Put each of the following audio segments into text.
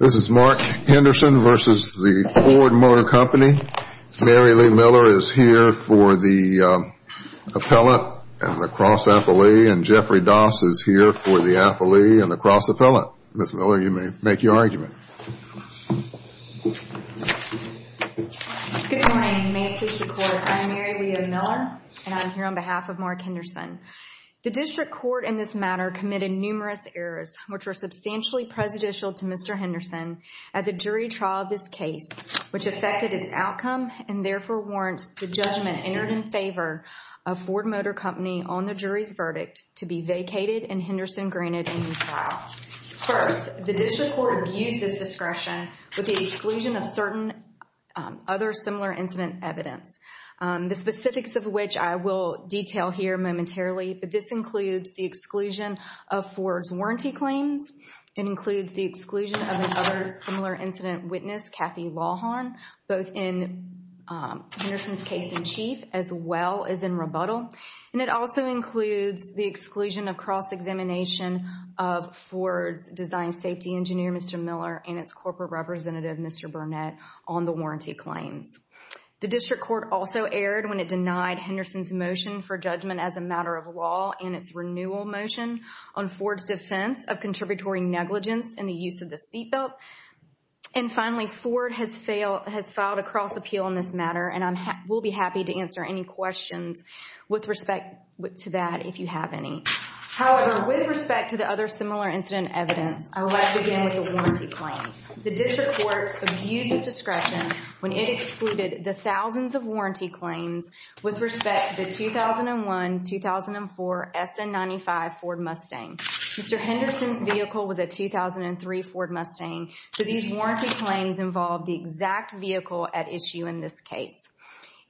This is Mark Henderson v. Ford Motor Company. Mary Lee Miller is here for the appellate and the cross-appellee, and Jeffrey Doss is here for the appellee and the cross-appellate. Ms. Miller, you may make your argument. Good morning. May it please the Court, I'm Mary Lee Miller, and I'm here on behalf of Mark Henderson. The District Court in this matter committed numerous errors, which were substantially prejudicial to Mr. Henderson, at the jury trial of this case, which affected its outcome and therefore warrants the judgment entered in favor of Ford Motor Company on the jury's verdict to be vacated and Henderson granted a new trial. First, the District Court abused its discretion with the exclusion of certain other similar incident evidence, the specifics of which I will detail here momentarily. But this includes the exclusion of Ford's warranty claims. It includes the exclusion of another similar incident witness, Kathy Lawhon, both in Henderson's case in chief as well as in rebuttal. And it also includes the exclusion of cross-examination of Ford's design safety engineer, Mr. Miller, and its corporate representative, Mr. Burnett, on the warranty claims. The District Court also erred when it denied Henderson's motion for judgment as a matter of law and its renewal motion on Ford's defense of contributory negligence in the use of the seatbelt. And finally, Ford has filed a cross-appeal in this matter, and I will be happy to answer any questions with respect to that if you have any. However, with respect to the other similar incident evidence, I will begin with the warranty claims. The District Court abused its discretion when it excluded the thousands of warranty claims with respect to the 2001-2004 SN95 Ford Mustang. Mr. Henderson's vehicle was a 2003 Ford Mustang, so these warranty claims involved the exact vehicle at issue in this case.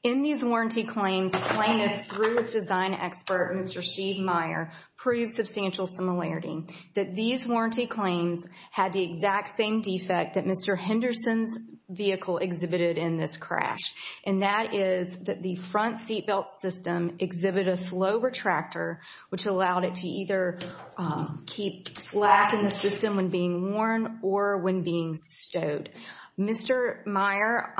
In these warranty claims, plaintiff, through its design expert, Mr. Steve Meyer, proved substantial similarity, that these warranty claims had the exact same defect that Mr. Henderson's vehicle exhibited in this crash, and that is that the front seatbelt system exhibited a slow retractor, which allowed it to either keep slack in the system when being worn or when being stowed. Mr. Meyer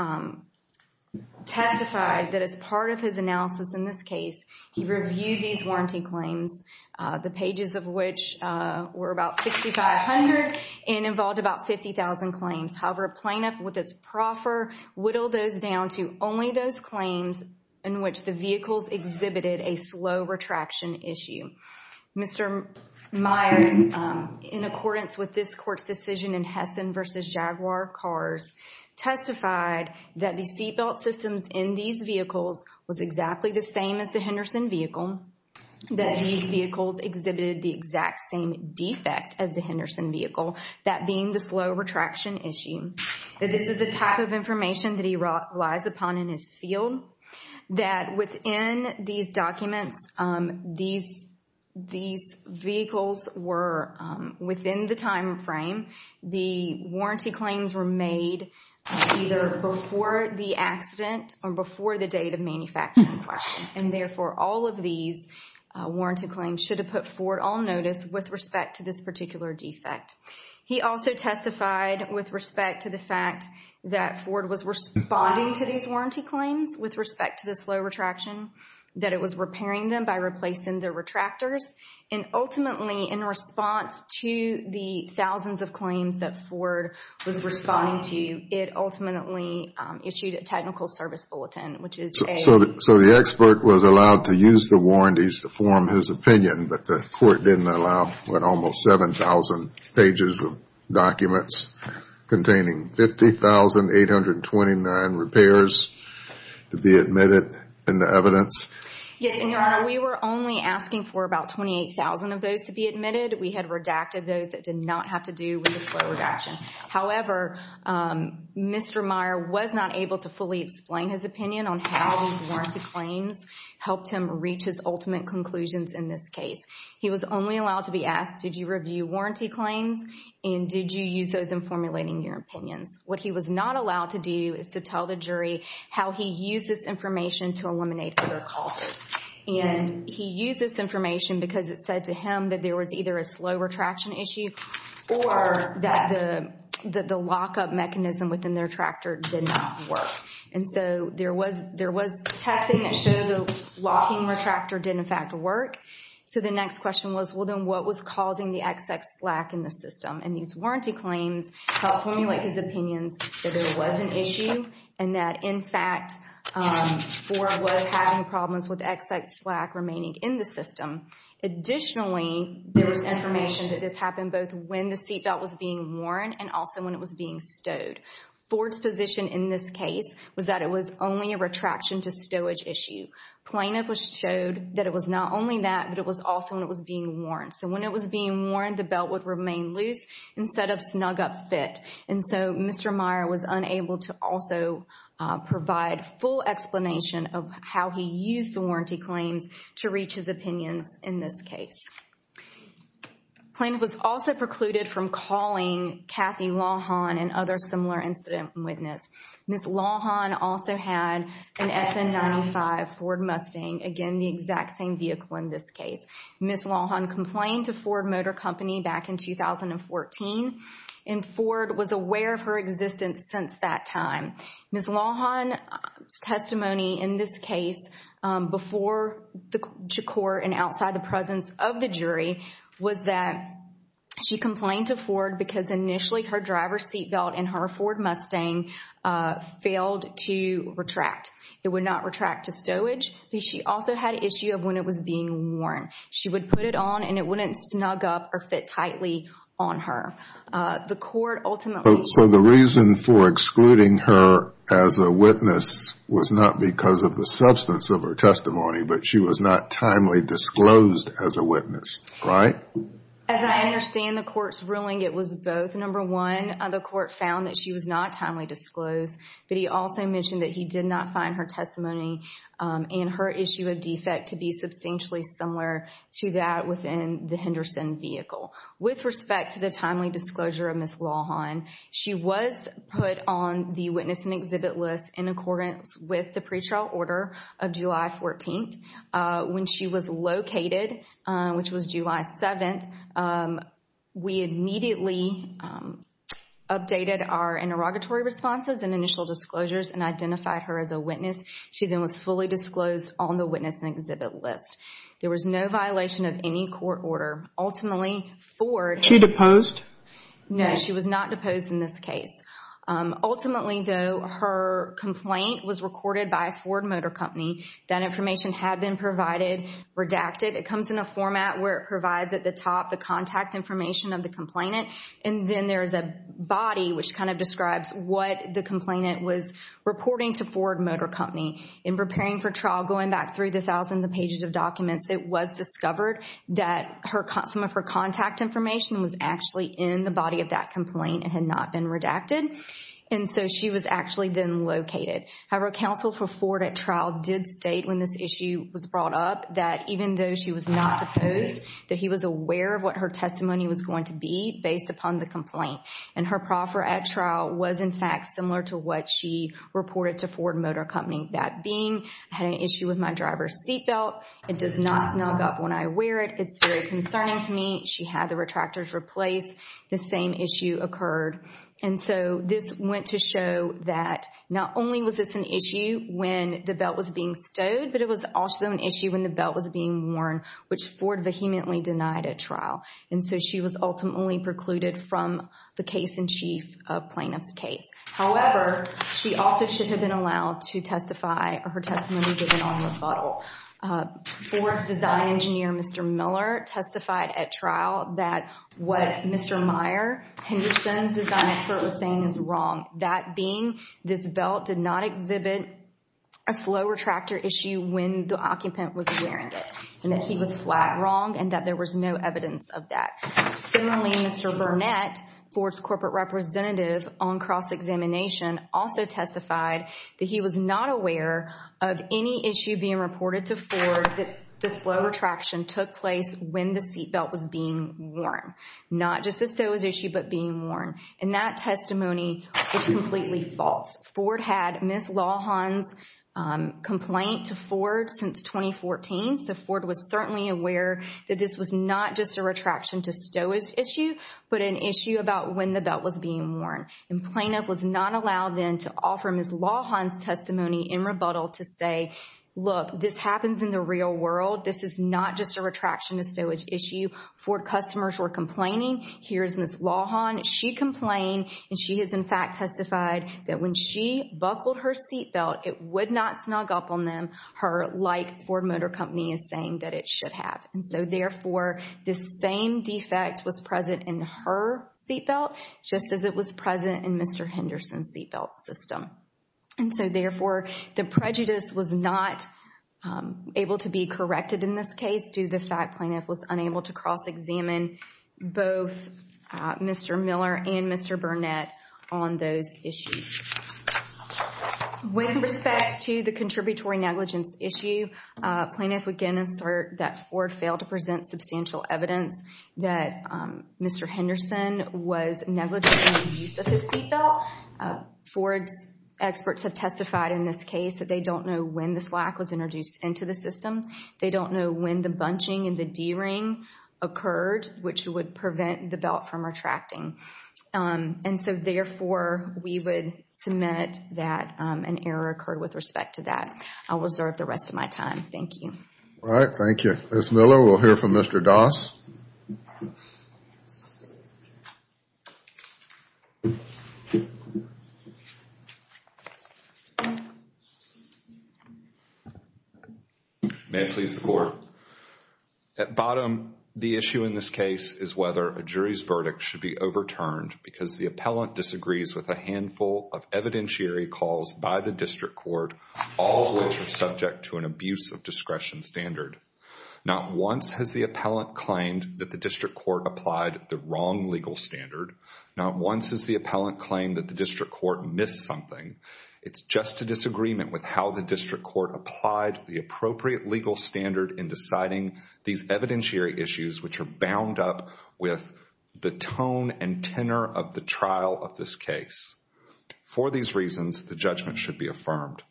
testified that as part of his analysis in this case, he reviewed these warranty claims, the pages of which were about 6,500 and involved about 50,000 claims. However, plaintiff, with its proffer, whittled those down to only those claims in which the vehicles exhibited a slow retraction issue. Mr. Meyer, in accordance with this court's decision in Hessen v. Jaguar Cars, testified that the seatbelt systems in these vehicles was exactly the same as the Henderson vehicle, that these vehicles exhibited the exact same defect as the Henderson vehicle, that being the slow retraction issue, that this is the type of information that he relies upon in his field, that within these documents, these vehicles were, within the time frame, the warranty claims were made either before the accident or before the date of manufacturing. And therefore, all of these warranty claims should have put Ford on notice with respect to this particular defect. He also testified with respect to the fact that Ford was responding to these warranty claims with respect to the slow retraction, that it was repairing them by replacing their retractors. And ultimately, in response to the thousands of claims that Ford was responding to, it ultimately issued a technical service bulletin, which is a... So the expert was allowed to use the warranties to form his opinion, but the court didn't allow almost 7,000 pages of documents containing 50,829 repairs to be admitted in the evidence? Yes, and Your Honor, we were only asking for about 28,000 of those to be admitted. We had redacted those that did not have to do with the slow retraction. However, Mr. Meyer was not able to fully explain his opinion on how these warranty claims helped him reach his ultimate conclusions in this case. He was only allowed to be asked, did you review warranty claims, and did you use those in formulating your opinions? What he was not allowed to do is to tell the jury how he used this information to eliminate other causes. And he used this information because it said to him that there was either a slow retraction issue or that the lockup mechanism within the retractor did not work. And so there was testing that showed the locking retractor didn't, in fact, work. So the next question was, well, then what was causing the XX slack in the system? And these warranty claims helped formulate his opinions that there was an issue and that, in fact, Ford was having problems with XX slack remaining in the system. Additionally, there was information that this happened both when the seatbelt was being worn and also when it was being stowed. Ford's position in this case was that it was only a retraction to stowage issue. Plaintiff showed that it was not only that, but it was also when it was being worn. So when it was being worn, the belt would remain loose instead of snug up fit. And so Mr. Meyer was unable to also provide full explanation of how he used the warranty claims to reach his opinions in this case. Plaintiff was also precluded from calling Kathy Lawhon and other similar incident witness. Ms. Lawhon also had an SN95 Ford Mustang, again, the exact same vehicle in this case. Ms. Lawhon complained to Ford Motor Company back in 2014, and Ford was aware of her existence since that time. Ms. Lawhon's testimony in this case before to court and outside the presence of the jury was that she complained to Ford because initially her driver's seatbelt and her Ford Mustang failed to retract. It would not retract to stowage. She also had issue of when it was being worn. She would put it on and it wouldn't snug up or fit tightly on her. The court ultimately... So the reason for excluding her as a witness was not because of the substance of her testimony, but she was not timely disclosed as a witness, right? As I understand the court's ruling, it was both. Number one, the court found that she was not timely disclosed, but he also mentioned that he did not find her testimony and her issue of defect to be substantially similar to that within the Henderson vehicle. With respect to the timely disclosure of Ms. Lawhon, she was put on the witness and exhibit list in accordance with the pretrial order of July 14th. When she was located, which was July 7th, we immediately updated our interrogatory responses and initial disclosures and identified her as a witness. She then was fully disclosed on the witness and exhibit list. There was no violation of any court order. Ultimately, Ford... Was she deposed? No, she was not deposed in this case. Ultimately, though, her complaint was recorded by Ford Motor Company. That information had been provided, redacted. It comes in a format where it provides at the top the contact information of the complainant, and then there is a body which kind of describes what the complainant was reporting to Ford Motor Company. In preparing for trial, going back through the thousands of pages of documents, it was discovered that some of her contact information was actually in the body of that complaint and had not been redacted, and so she was actually then located. However, counsel for Ford at trial did state when this issue was brought up that even though she was not deposed, that he was aware of what her testimony was going to be based upon the complaint. And her proffer at trial was, in fact, similar to what she reported to Ford Motor Company. That being, I had an issue with my driver's seatbelt. It does not snug up when I wear it. It's very concerning to me. She had the retractors replaced. The same issue occurred. And so this went to show that not only was this an issue when the belt was being stowed, but it was also an issue when the belt was being worn, which Ford vehemently denied at trial. And so she was ultimately precluded from the case-in-chief plaintiff's case. However, she also should have been allowed to testify or her testimony given on rebuttal. Ford's design engineer, Mr. Miller, testified at trial that what Mr. Meyer, Henderson's design expert was saying is wrong. That being, this belt did not exhibit a slow retractor issue when the occupant was wearing it. And that he was flat wrong and that there was no evidence of that. Similarly, Mr. Burnett, Ford's corporate representative on cross-examination, also testified that he was not aware of any issue being reported to Ford that the slow retraction took place when the seatbelt was being worn. Not just a stowage issue, but being worn. And that testimony is completely false. Ford had Ms. Lawhon's complaint to Ford since 2014. So Ford was certainly aware that this was not just a retraction to stowage issue, but an issue about when the belt was being worn. And plaintiff was not allowed then to offer Ms. Lawhon's testimony in rebuttal to say, look, this happens in the real world. This is not just a retraction to stowage issue. Ford customers were complaining. Here is Ms. Lawhon. She complained and she has, in fact, testified that when she buckled her seatbelt, it would not snug up on them like Ford Motor Company is saying that it should have. And so, therefore, this same defect was present in her seatbelt, just as it was present in Mr. Henderson's seatbelt system. And so, therefore, the prejudice was not able to be corrected in this case due to the fact plaintiff was unable to cross-examine both Mr. Miller and Mr. Burnett on those issues. With respect to the contributory negligence issue, plaintiff would again assert that Ford failed to present substantial evidence that Mr. Henderson was negligent in the use of his seatbelt. Ford's experts have testified in this case that they don't know when the slack was introduced into the system. They don't know when the bunching and the D-ring occurred, which would prevent the belt from retracting. And so, therefore, we would submit that an error occurred with respect to that. I will reserve the rest of my time. Thank you. All right. Thank you. Ms. Miller, we'll hear from Mr. Doss. May it please the Court. At bottom, the issue in this case is whether a jury's verdict should be overturned because the appellant disagrees with a handful of evidentiary calls by the district court, all of which are subject to an abuse of discretion standard. Not once has the appellant claimed that the district court applied the wrong legal standard. Not once has the appellant claimed that the district court missed something. It's just a disagreement with how the district court applied the appropriate legal standard in deciding these evidentiary issues, which are bound up with the tone and tenor of the trial of this case. For these reasons, the judgment should be affirmed.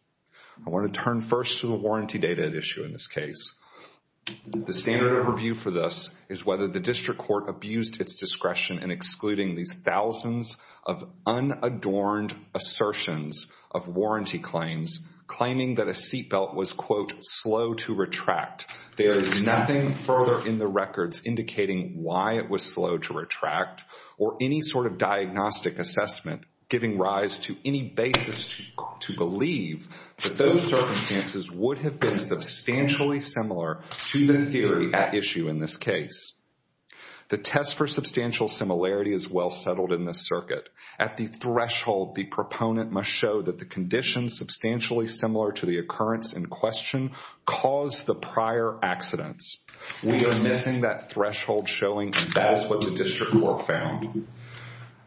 I want to turn first to the warranty data at issue in this case. The standard of review for this is whether the district court abused its discretion in excluding these thousands of unadorned assertions of warranty claims, claiming that a seat belt was, quote, slow to retract. There is nothing further in the records indicating why it was slow to retract or any sort of diagnostic assessment giving rise to any basis to believe that those circumstances would have been substantially similar to the theory at issue in this case. The test for substantial similarity is well settled in this circuit. At the threshold, the proponent must show that the condition, substantially similar to the occurrence in question, caused the prior accidents. We are missing that threshold showing that is what the district court found.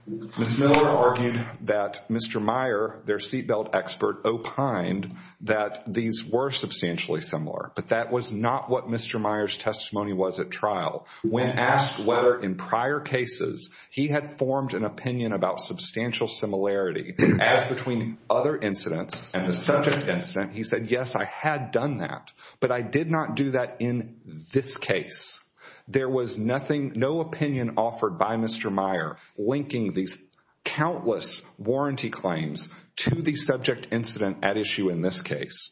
Ms. Miller argued that Mr. Meyer, their seat belt expert, opined that these were substantially similar, but that was not what Mr. Meyer's testimony was at trial. When asked whether in prior cases he had formed an opinion about substantial similarity, as between other incidents and the subject incident, he said, yes, I had done that, but I did not do that in this case. There was no opinion offered by Mr. Meyer linking these countless warranty claims to the subject incident at issue in this case.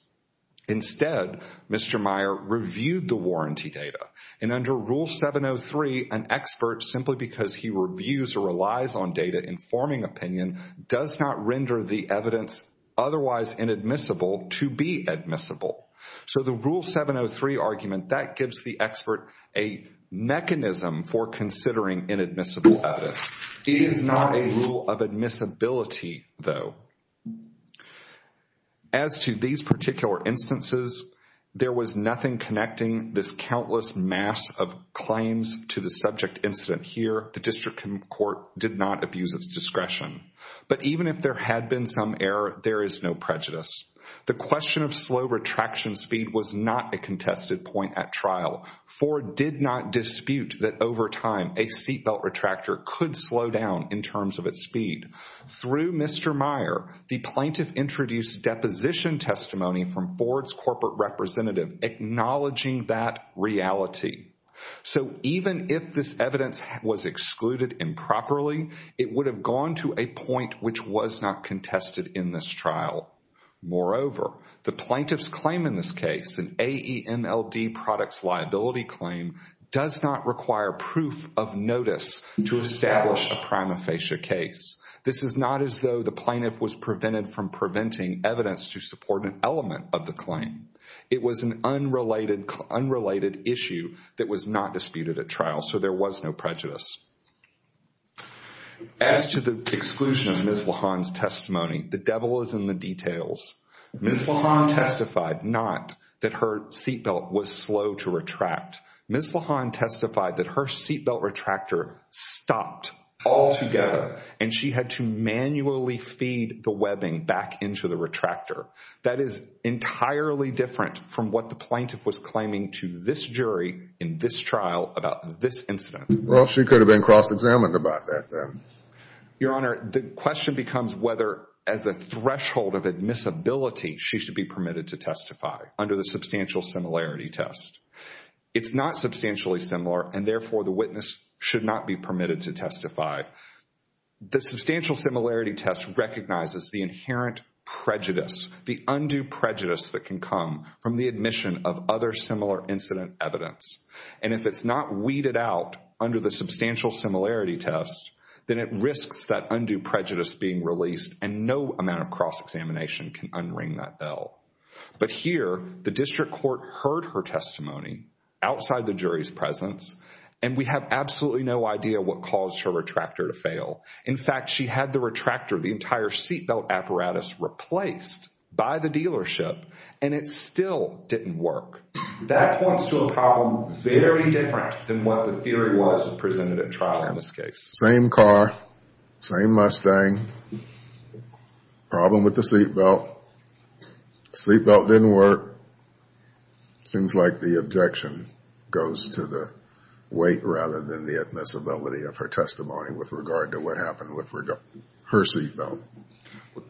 Instead, Mr. Meyer reviewed the warranty data, and under Rule 703, an expert, simply because he reviews or relies on data informing opinion, does not render the evidence otherwise inadmissible to be admissible. So the Rule 703 argument, that gives the expert a mechanism for considering inadmissible evidence. It is not a rule of admissibility, though. As to these particular instances, there was nothing connecting this countless mass of claims to the subject incident here. The district court did not abuse its discretion. But even if there had been some error, there is no prejudice. The question of slow retraction speed was not a contested point at trial. Ford did not dispute that over time, a seatbelt retractor could slow down in terms of its speed. Through Mr. Meyer, the plaintiff introduced deposition testimony from Ford's corporate representative, acknowledging that reality. So even if this evidence was excluded improperly, it would have gone to a point which was not contested in this trial. Moreover, the plaintiff's claim in this case, an AEMLD products liability claim, does not require proof of notice to establish a prima facie case. This is not as though the plaintiff was prevented from preventing evidence to support an element of the claim. It was an unrelated issue that was not disputed at trial, so there was no prejudice. As to the exclusion of Ms. LaHon's testimony, the devil is in the details. Ms. LaHon testified not that her seatbelt was slow to retract. Ms. LaHon testified that her seatbelt retractor stopped altogether, and she had to manually feed the webbing back into the retractor. That is entirely different from what the plaintiff was claiming to this jury in this trial about this incident. Well, she could have been cross-examined about that then. Your Honor, the question becomes whether, as a threshold of admissibility, she should be permitted to testify under the substantial similarity test. It's not substantially similar, and therefore the witness should not be permitted to testify. The substantial similarity test recognizes the inherent prejudice, the undue prejudice that can come from the admission of other similar incident evidence. And if it's not weeded out under the substantial similarity test, then it risks that undue prejudice being released, and no amount of cross-examination can unring that bell. But here, the district court heard her testimony outside the jury's presence, and we have absolutely no idea what caused her retractor to fail. In fact, she had the retractor, the entire seatbelt apparatus, replaced by the dealership, and it still didn't work. That points to a problem very different than what the theory was presented at trial in this case. Same car, same Mustang, problem with the seatbelt. Seatbelt didn't work. Seems like the objection goes to the weight rather than the admissibility of her testimony with regard to what happened with her seatbelt.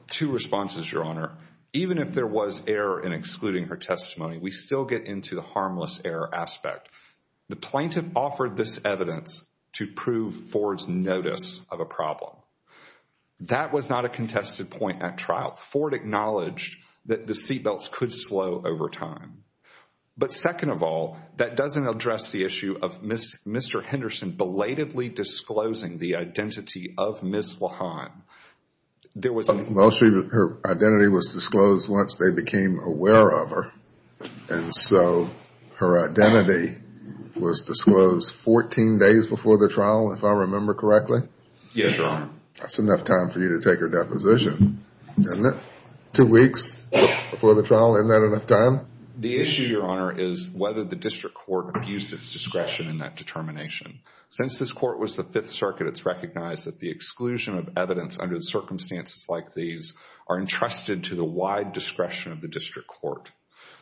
Two responses, Your Honor. Even if there was error in excluding her testimony, we still get into the harmless error aspect. The plaintiff offered this evidence to prove Ford's notice of a problem. That was not a contested point at trial. Ford acknowledged that the seatbelts could slow over time. But second of all, that doesn't address the issue of Mr. Henderson belatedly disclosing the identity of Ms. Lahan. Well, her identity was disclosed once they became aware of her. And so her identity was disclosed 14 days before the trial, if I remember correctly? Yes, Your Honor. That's enough time for you to take her deposition, isn't it? Two weeks before the trial, isn't that enough time? The issue, Your Honor, is whether the district court abused its discretion in that determination. Since this court was the Fifth Circuit, it's recognized that the exclusion of evidence under the circumstances like these are entrusted to the wide discretion of the district court.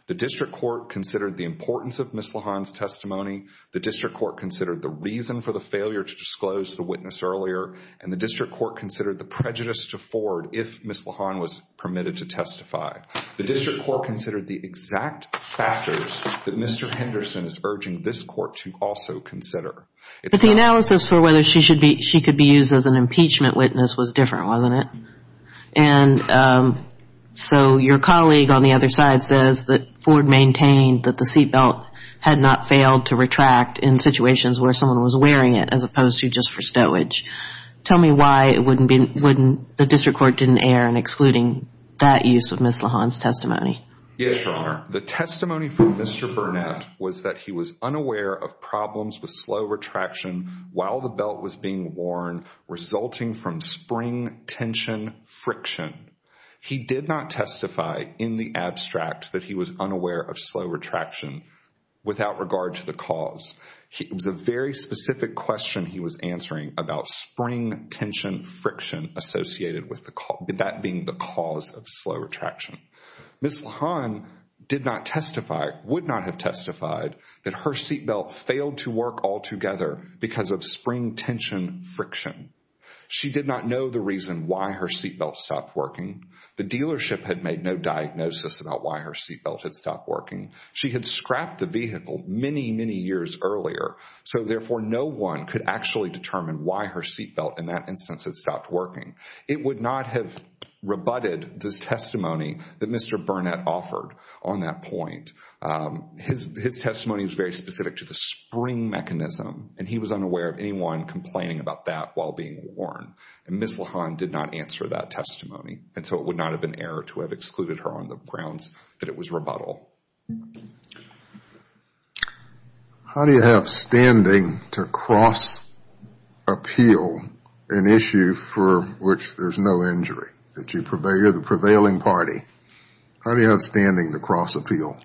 The district court considered the importance of Ms. Lahan's testimony. The district court considered the reason for the failure to disclose the witness earlier. And the district court considered the prejudice to Ford if Ms. Lahan was permitted to testify. The district court considered the exact factors that Mr. Henderson is urging this court to also consider. But the analysis for whether she could be used as an impeachment witness was different, wasn't it? And so your colleague on the other side says that Ford maintained that the seat belt had not failed to retract in situations where someone was wearing it as opposed to just for stowage. Tell me why the district court didn't err in excluding that use of Ms. Lahan's testimony. Yes, Your Honor. The testimony from Mr. Burnett was that he was unaware of problems with slow retraction while the belt was being worn resulting from spring tension friction. He did not testify in the abstract that he was unaware of slow retraction without regard to the cause. It was a very specific question he was answering about spring tension friction associated with that being the cause of slow retraction. Ms. Lahan did not testify, would not have testified that her seat belt failed to work altogether because of spring tension friction. She did not know the reason why her seat belt stopped working. The dealership had made no diagnosis about why her seat belt had stopped working. She had scrapped the vehicle many, many years earlier, so therefore no one could actually determine why her seat belt in that instance had stopped working. It would not have rebutted this testimony that Mr. Burnett offered on that point. His testimony was very specific to the spring mechanism, and he was unaware of anyone complaining about that while being worn. And Ms. Lahan did not answer that testimony, and so it would not have been error to have excluded her on the grounds that it was rebuttal. How do you have standing to cross-appeal an issue for which there's no injury? You're the prevailing party. How do you have standing to cross-appeal?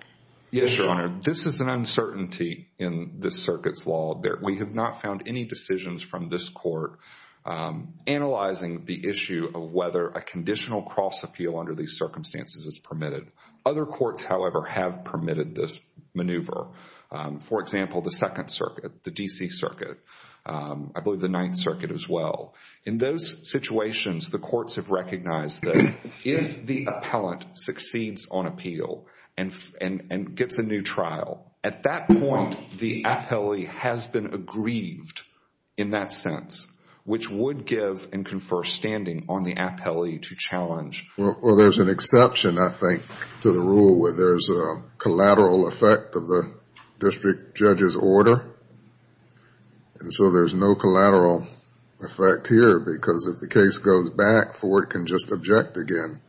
Yes, Your Honor. This is an uncertainty in this circuit's law. We have not found any decisions from this court analyzing the issue of whether a conditional cross-appeal under these circumstances is permitted. Other courts, however, have permitted this maneuver. For example, the Second Circuit, the D.C. Circuit, I believe the Ninth Circuit as well. In those situations, the courts have recognized that if the appellant succeeds on appeal and gets a new trial, at that point, the appellee has been aggrieved in that sense, which would give and confer standing on the appellee to challenge. Well, there's an exception, I think, to the rule where there's a collateral effect of the district judge's order. And so there's no collateral effect here because if the case goes back, Ford can just object again,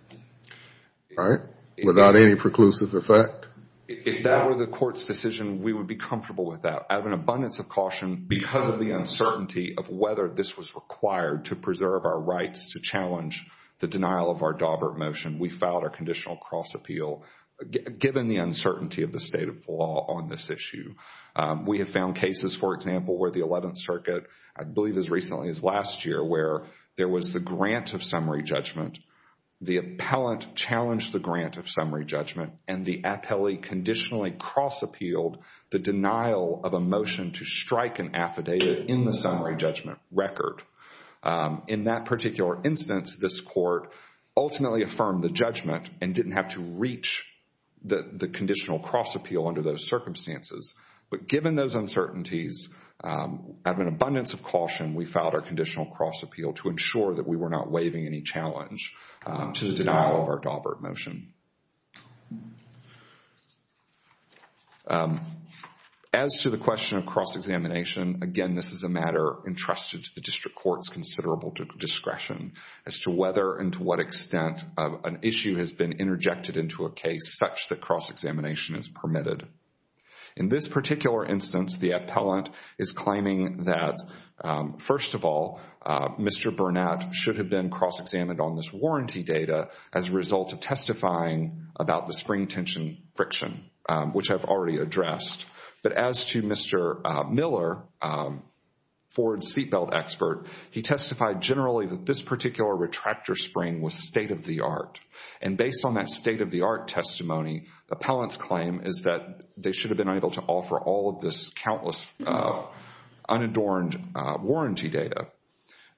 right, without any preclusive effect. If that were the court's decision, we would be comfortable with that. I have an abundance of caution because of the uncertainty of whether this was required to preserve our rights to challenge the denial of our Daubert motion. We filed a conditional cross-appeal given the uncertainty of the state of law on this issue. We have found cases, for example, where the Eleventh Circuit, I believe as recently as last year, where there was the grant of summary judgment, the appellant challenged the grant of summary judgment, and the appellee conditionally cross-appealed the denial of a motion to strike an affidavit in the summary judgment record. In that particular instance, this court ultimately affirmed the judgment and didn't have to reach the conditional cross-appeal under those circumstances. But given those uncertainties, I have an abundance of caution. We filed our conditional cross-appeal to ensure that we were not waiving any challenge to the denial of our Daubert motion. As to the question of cross-examination, again, this is a matter entrusted to the district court's considerable discretion as to whether and to what extent an issue has been interjected into a case such that cross-examination is permitted. In this particular instance, the appellant is claiming that, first of all, Mr. Burnett should have been cross-examined on this warranty data as a result of testifying about the spring tension friction, which I've already addressed. But as to Mr. Miller, Ford's seatbelt expert, he testified generally that this particular retractor spring was state-of-the-art. And based on that state-of-the-art testimony, the appellant's claim is that they should have been able to offer all of this countless unadorned warranty data.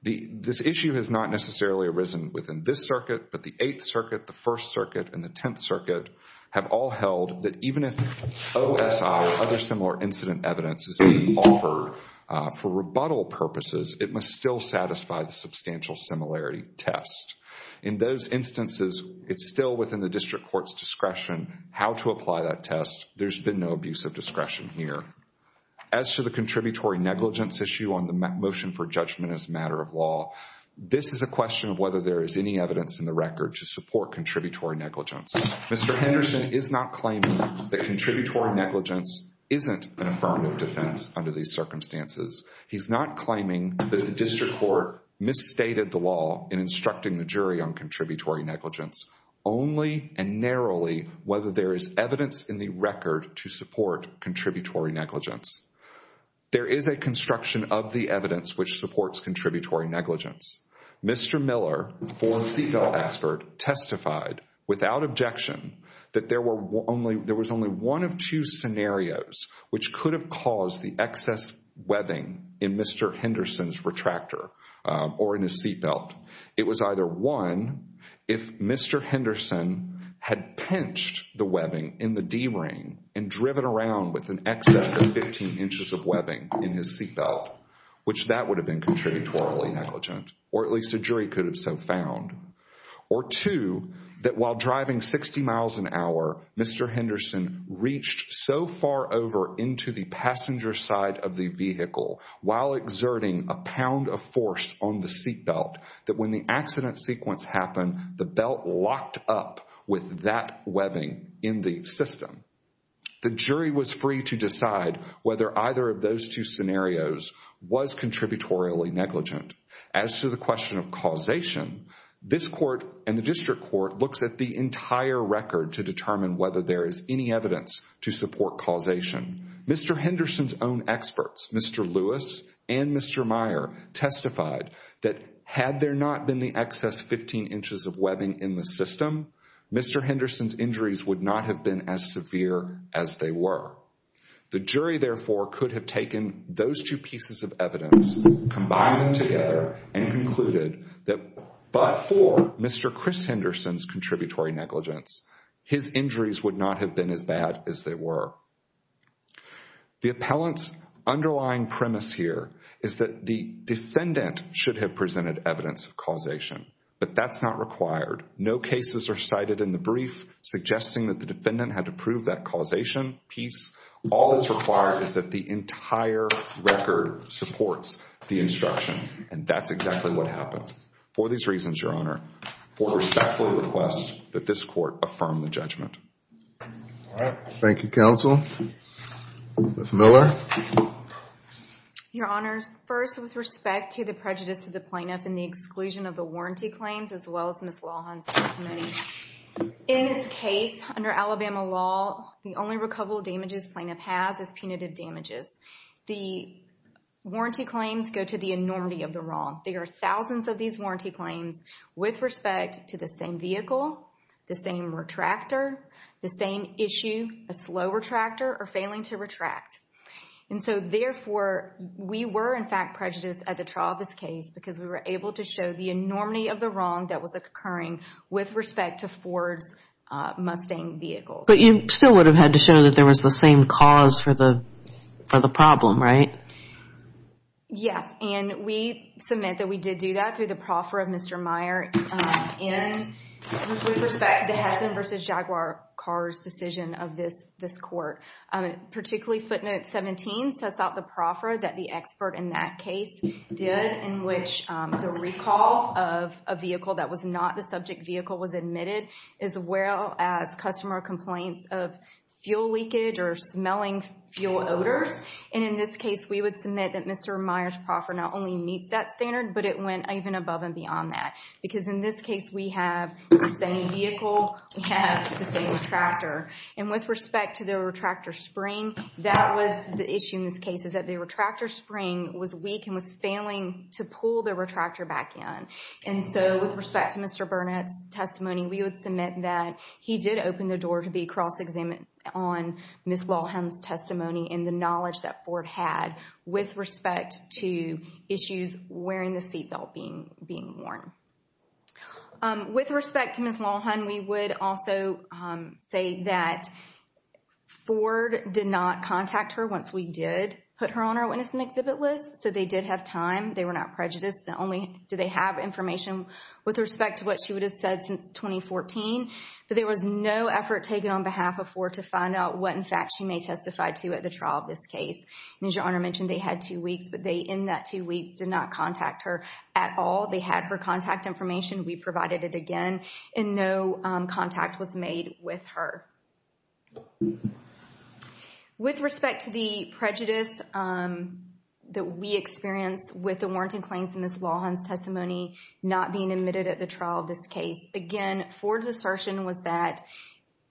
This issue has not necessarily arisen within this circuit, but the Eighth Circuit, the First Circuit, and the Tenth Circuit have all held that even if OSI or other similar incident evidence is being offered for rebuttal purposes, it must still satisfy the substantial similarity test. In those instances, it's still within the district court's discretion how to apply that test. There's been no abuse of discretion here. As to the contributory negligence issue on the motion for judgment as a matter of law, this is a question of whether there is any evidence in the record to support contributory negligence. Mr. Henderson is not claiming that contributory negligence isn't an affirmative defense under these circumstances. He's not claiming that the district court misstated the law in instructing the jury on contributory negligence, only and narrowly whether there is evidence in the record to support contributory negligence. There is a construction of the evidence which supports contributory negligence. Mr. Miller, former seatbelt expert, testified without objection that there was only one of two scenarios which could have caused the excess webbing in Mr. Henderson's retractor or in his seatbelt. It was either one, if Mr. Henderson had pinched the webbing in the D-ring and driven around with an excess of 15 inches of webbing in his seatbelt, which that would have been contributory negligence, or at least a jury could have so found. Or two, that while driving 60 miles an hour, Mr. Henderson reached so far over into the passenger side of the vehicle while exerting a pound of force on the seatbelt that when the accident sequence happened, the belt locked up with that webbing in the system. The jury was free to decide whether either of those two scenarios was contributory negligent. As to the question of causation, this court and the district court looks at the entire record to determine whether there is any evidence to support causation. Mr. Henderson's own experts, Mr. Lewis and Mr. Meyer, testified that had there not been the excess 15 inches of webbing in the system, Mr. Henderson's injuries would not have been as severe as they were. The jury, therefore, could have taken those two pieces of evidence, combined them together, and concluded that but for Mr. Chris Henderson's contributory negligence, his injuries would not have been as bad as they were. The appellant's underlying premise here is that the defendant should have presented evidence of causation, but that's not required. No cases are cited in the brief suggesting that the defendant had to prove that causation piece. All that's required is that the entire record supports the instruction, and that's exactly what happened. For these reasons, Your Honor, I respectfully request that this court affirm the judgment. Thank you, counsel. Ms. Miller? Your Honors, first, with respect to the prejudice to the plaintiff in the exclusion of the warranty claims, as well as Ms. Lawhon's testimony, in this case, under Alabama law, the only recoverable damages plaintiff has is punitive damages. The warranty claims go to the enormity of the wrong. There are thousands of these warranty claims with respect to the same vehicle, the same retractor, the same issue, a slow retractor, or failing to retract. And so, therefore, we were, in fact, prejudiced at the trial of this case because we were able to show the enormity of the wrong that was occurring with respect to Ford's Mustang vehicle. But you still would have had to show that there was the same cause for the problem, right? Yes, and we submit that we did do that through the proffer of Mr. Meyer. With respect to the Hessen v. Jaguar car's decision of this court, particularly footnote 17 sets out the proffer that the expert in that case did, in which the recall of a vehicle that was not the subject vehicle was admitted, as well as customer complaints of fuel leakage or smelling fuel odors. And in this case, we would submit that Mr. Meyer's proffer not only meets that standard, but it went even above and beyond that. Because in this case, we have the same vehicle, we have the same retractor. And with respect to the retractor spring, that was the issue in this case, is that the retractor spring was weak and was failing to pull the retractor back in. And so, with respect to Mr. Burnett's testimony, we would submit that he did open the door to be cross-examined on Ms. Lohan's testimony and the knowledge that Ford had with respect to issues wearing the seatbelt being worn. With respect to Ms. Lohan, we would also say that Ford did not contact her once we did put her on our witness and exhibit list. So, they did have time. They were not prejudiced. Not only do they have information with respect to what she would have said since 2014, but there was no effort taken on behalf of Ford to find out what, in fact, she may testify to at the trial of this case. And as Your Honor mentioned, they had two weeks, but they, in that two weeks, did not contact her at all. They had her contact information. We provided it again, and no contact was made with her. With respect to the prejudice that we experienced with the warranted claims in Ms. Lohan's testimony not being admitted at the trial of this case, again, Ford's assertion was that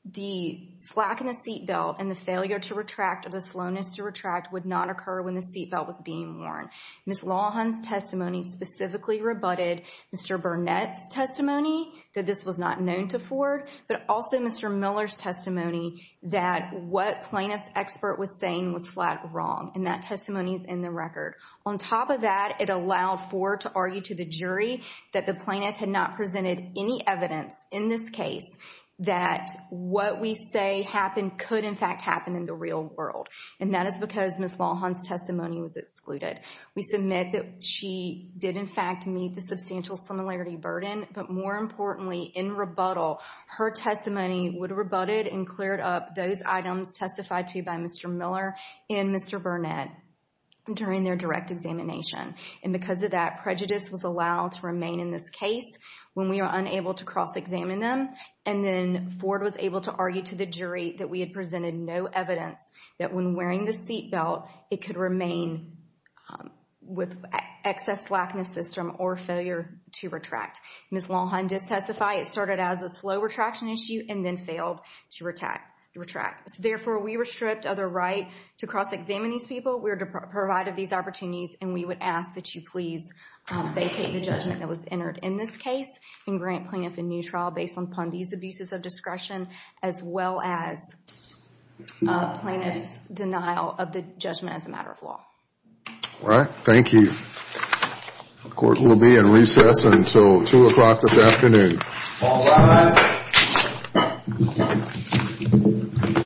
the slack in the seatbelt and the failure to retract or the slowness to retract would not occur when the seatbelt was being worn. Ms. Lohan's testimony specifically rebutted Mr. Burnett's testimony that this was not known to Ford, but also Mr. Miller's testimony that what plaintiff's expert was saying was flat wrong, and that testimony is in the record. On top of that, it allowed Ford to argue to the jury that the plaintiff had not presented any evidence in this case that what we say happened could, in fact, happen in the real world, and that is because Ms. Lohan's testimony was excluded. We submit that she did, in fact, meet the substantial similarity burden, but more importantly, in rebuttal, her testimony would have rebutted and cleared up those items testified to by Mr. Miller and Mr. Burnett during their direct examination. And because of that, prejudice was allowed to remain in this case when we were unable to cross-examine them, and then Ford was able to argue to the jury that we had presented no evidence that when wearing the seatbelt, it could remain with excess slack in the system or failure to retract. Ms. Lohan did testify it started as a slow retraction issue and then failed to retract. Therefore, we were stripped of the right to cross-examine these people. We were provided these opportunities, and we would ask that you please vacate the judgment that was entered in this case and grant plaintiff a new trial based upon these abuses of discretion as well as plaintiff's denial of the judgment as a matter of law. All right. Thank you. The court will be in recess until 2 o'clock this afternoon. All rise.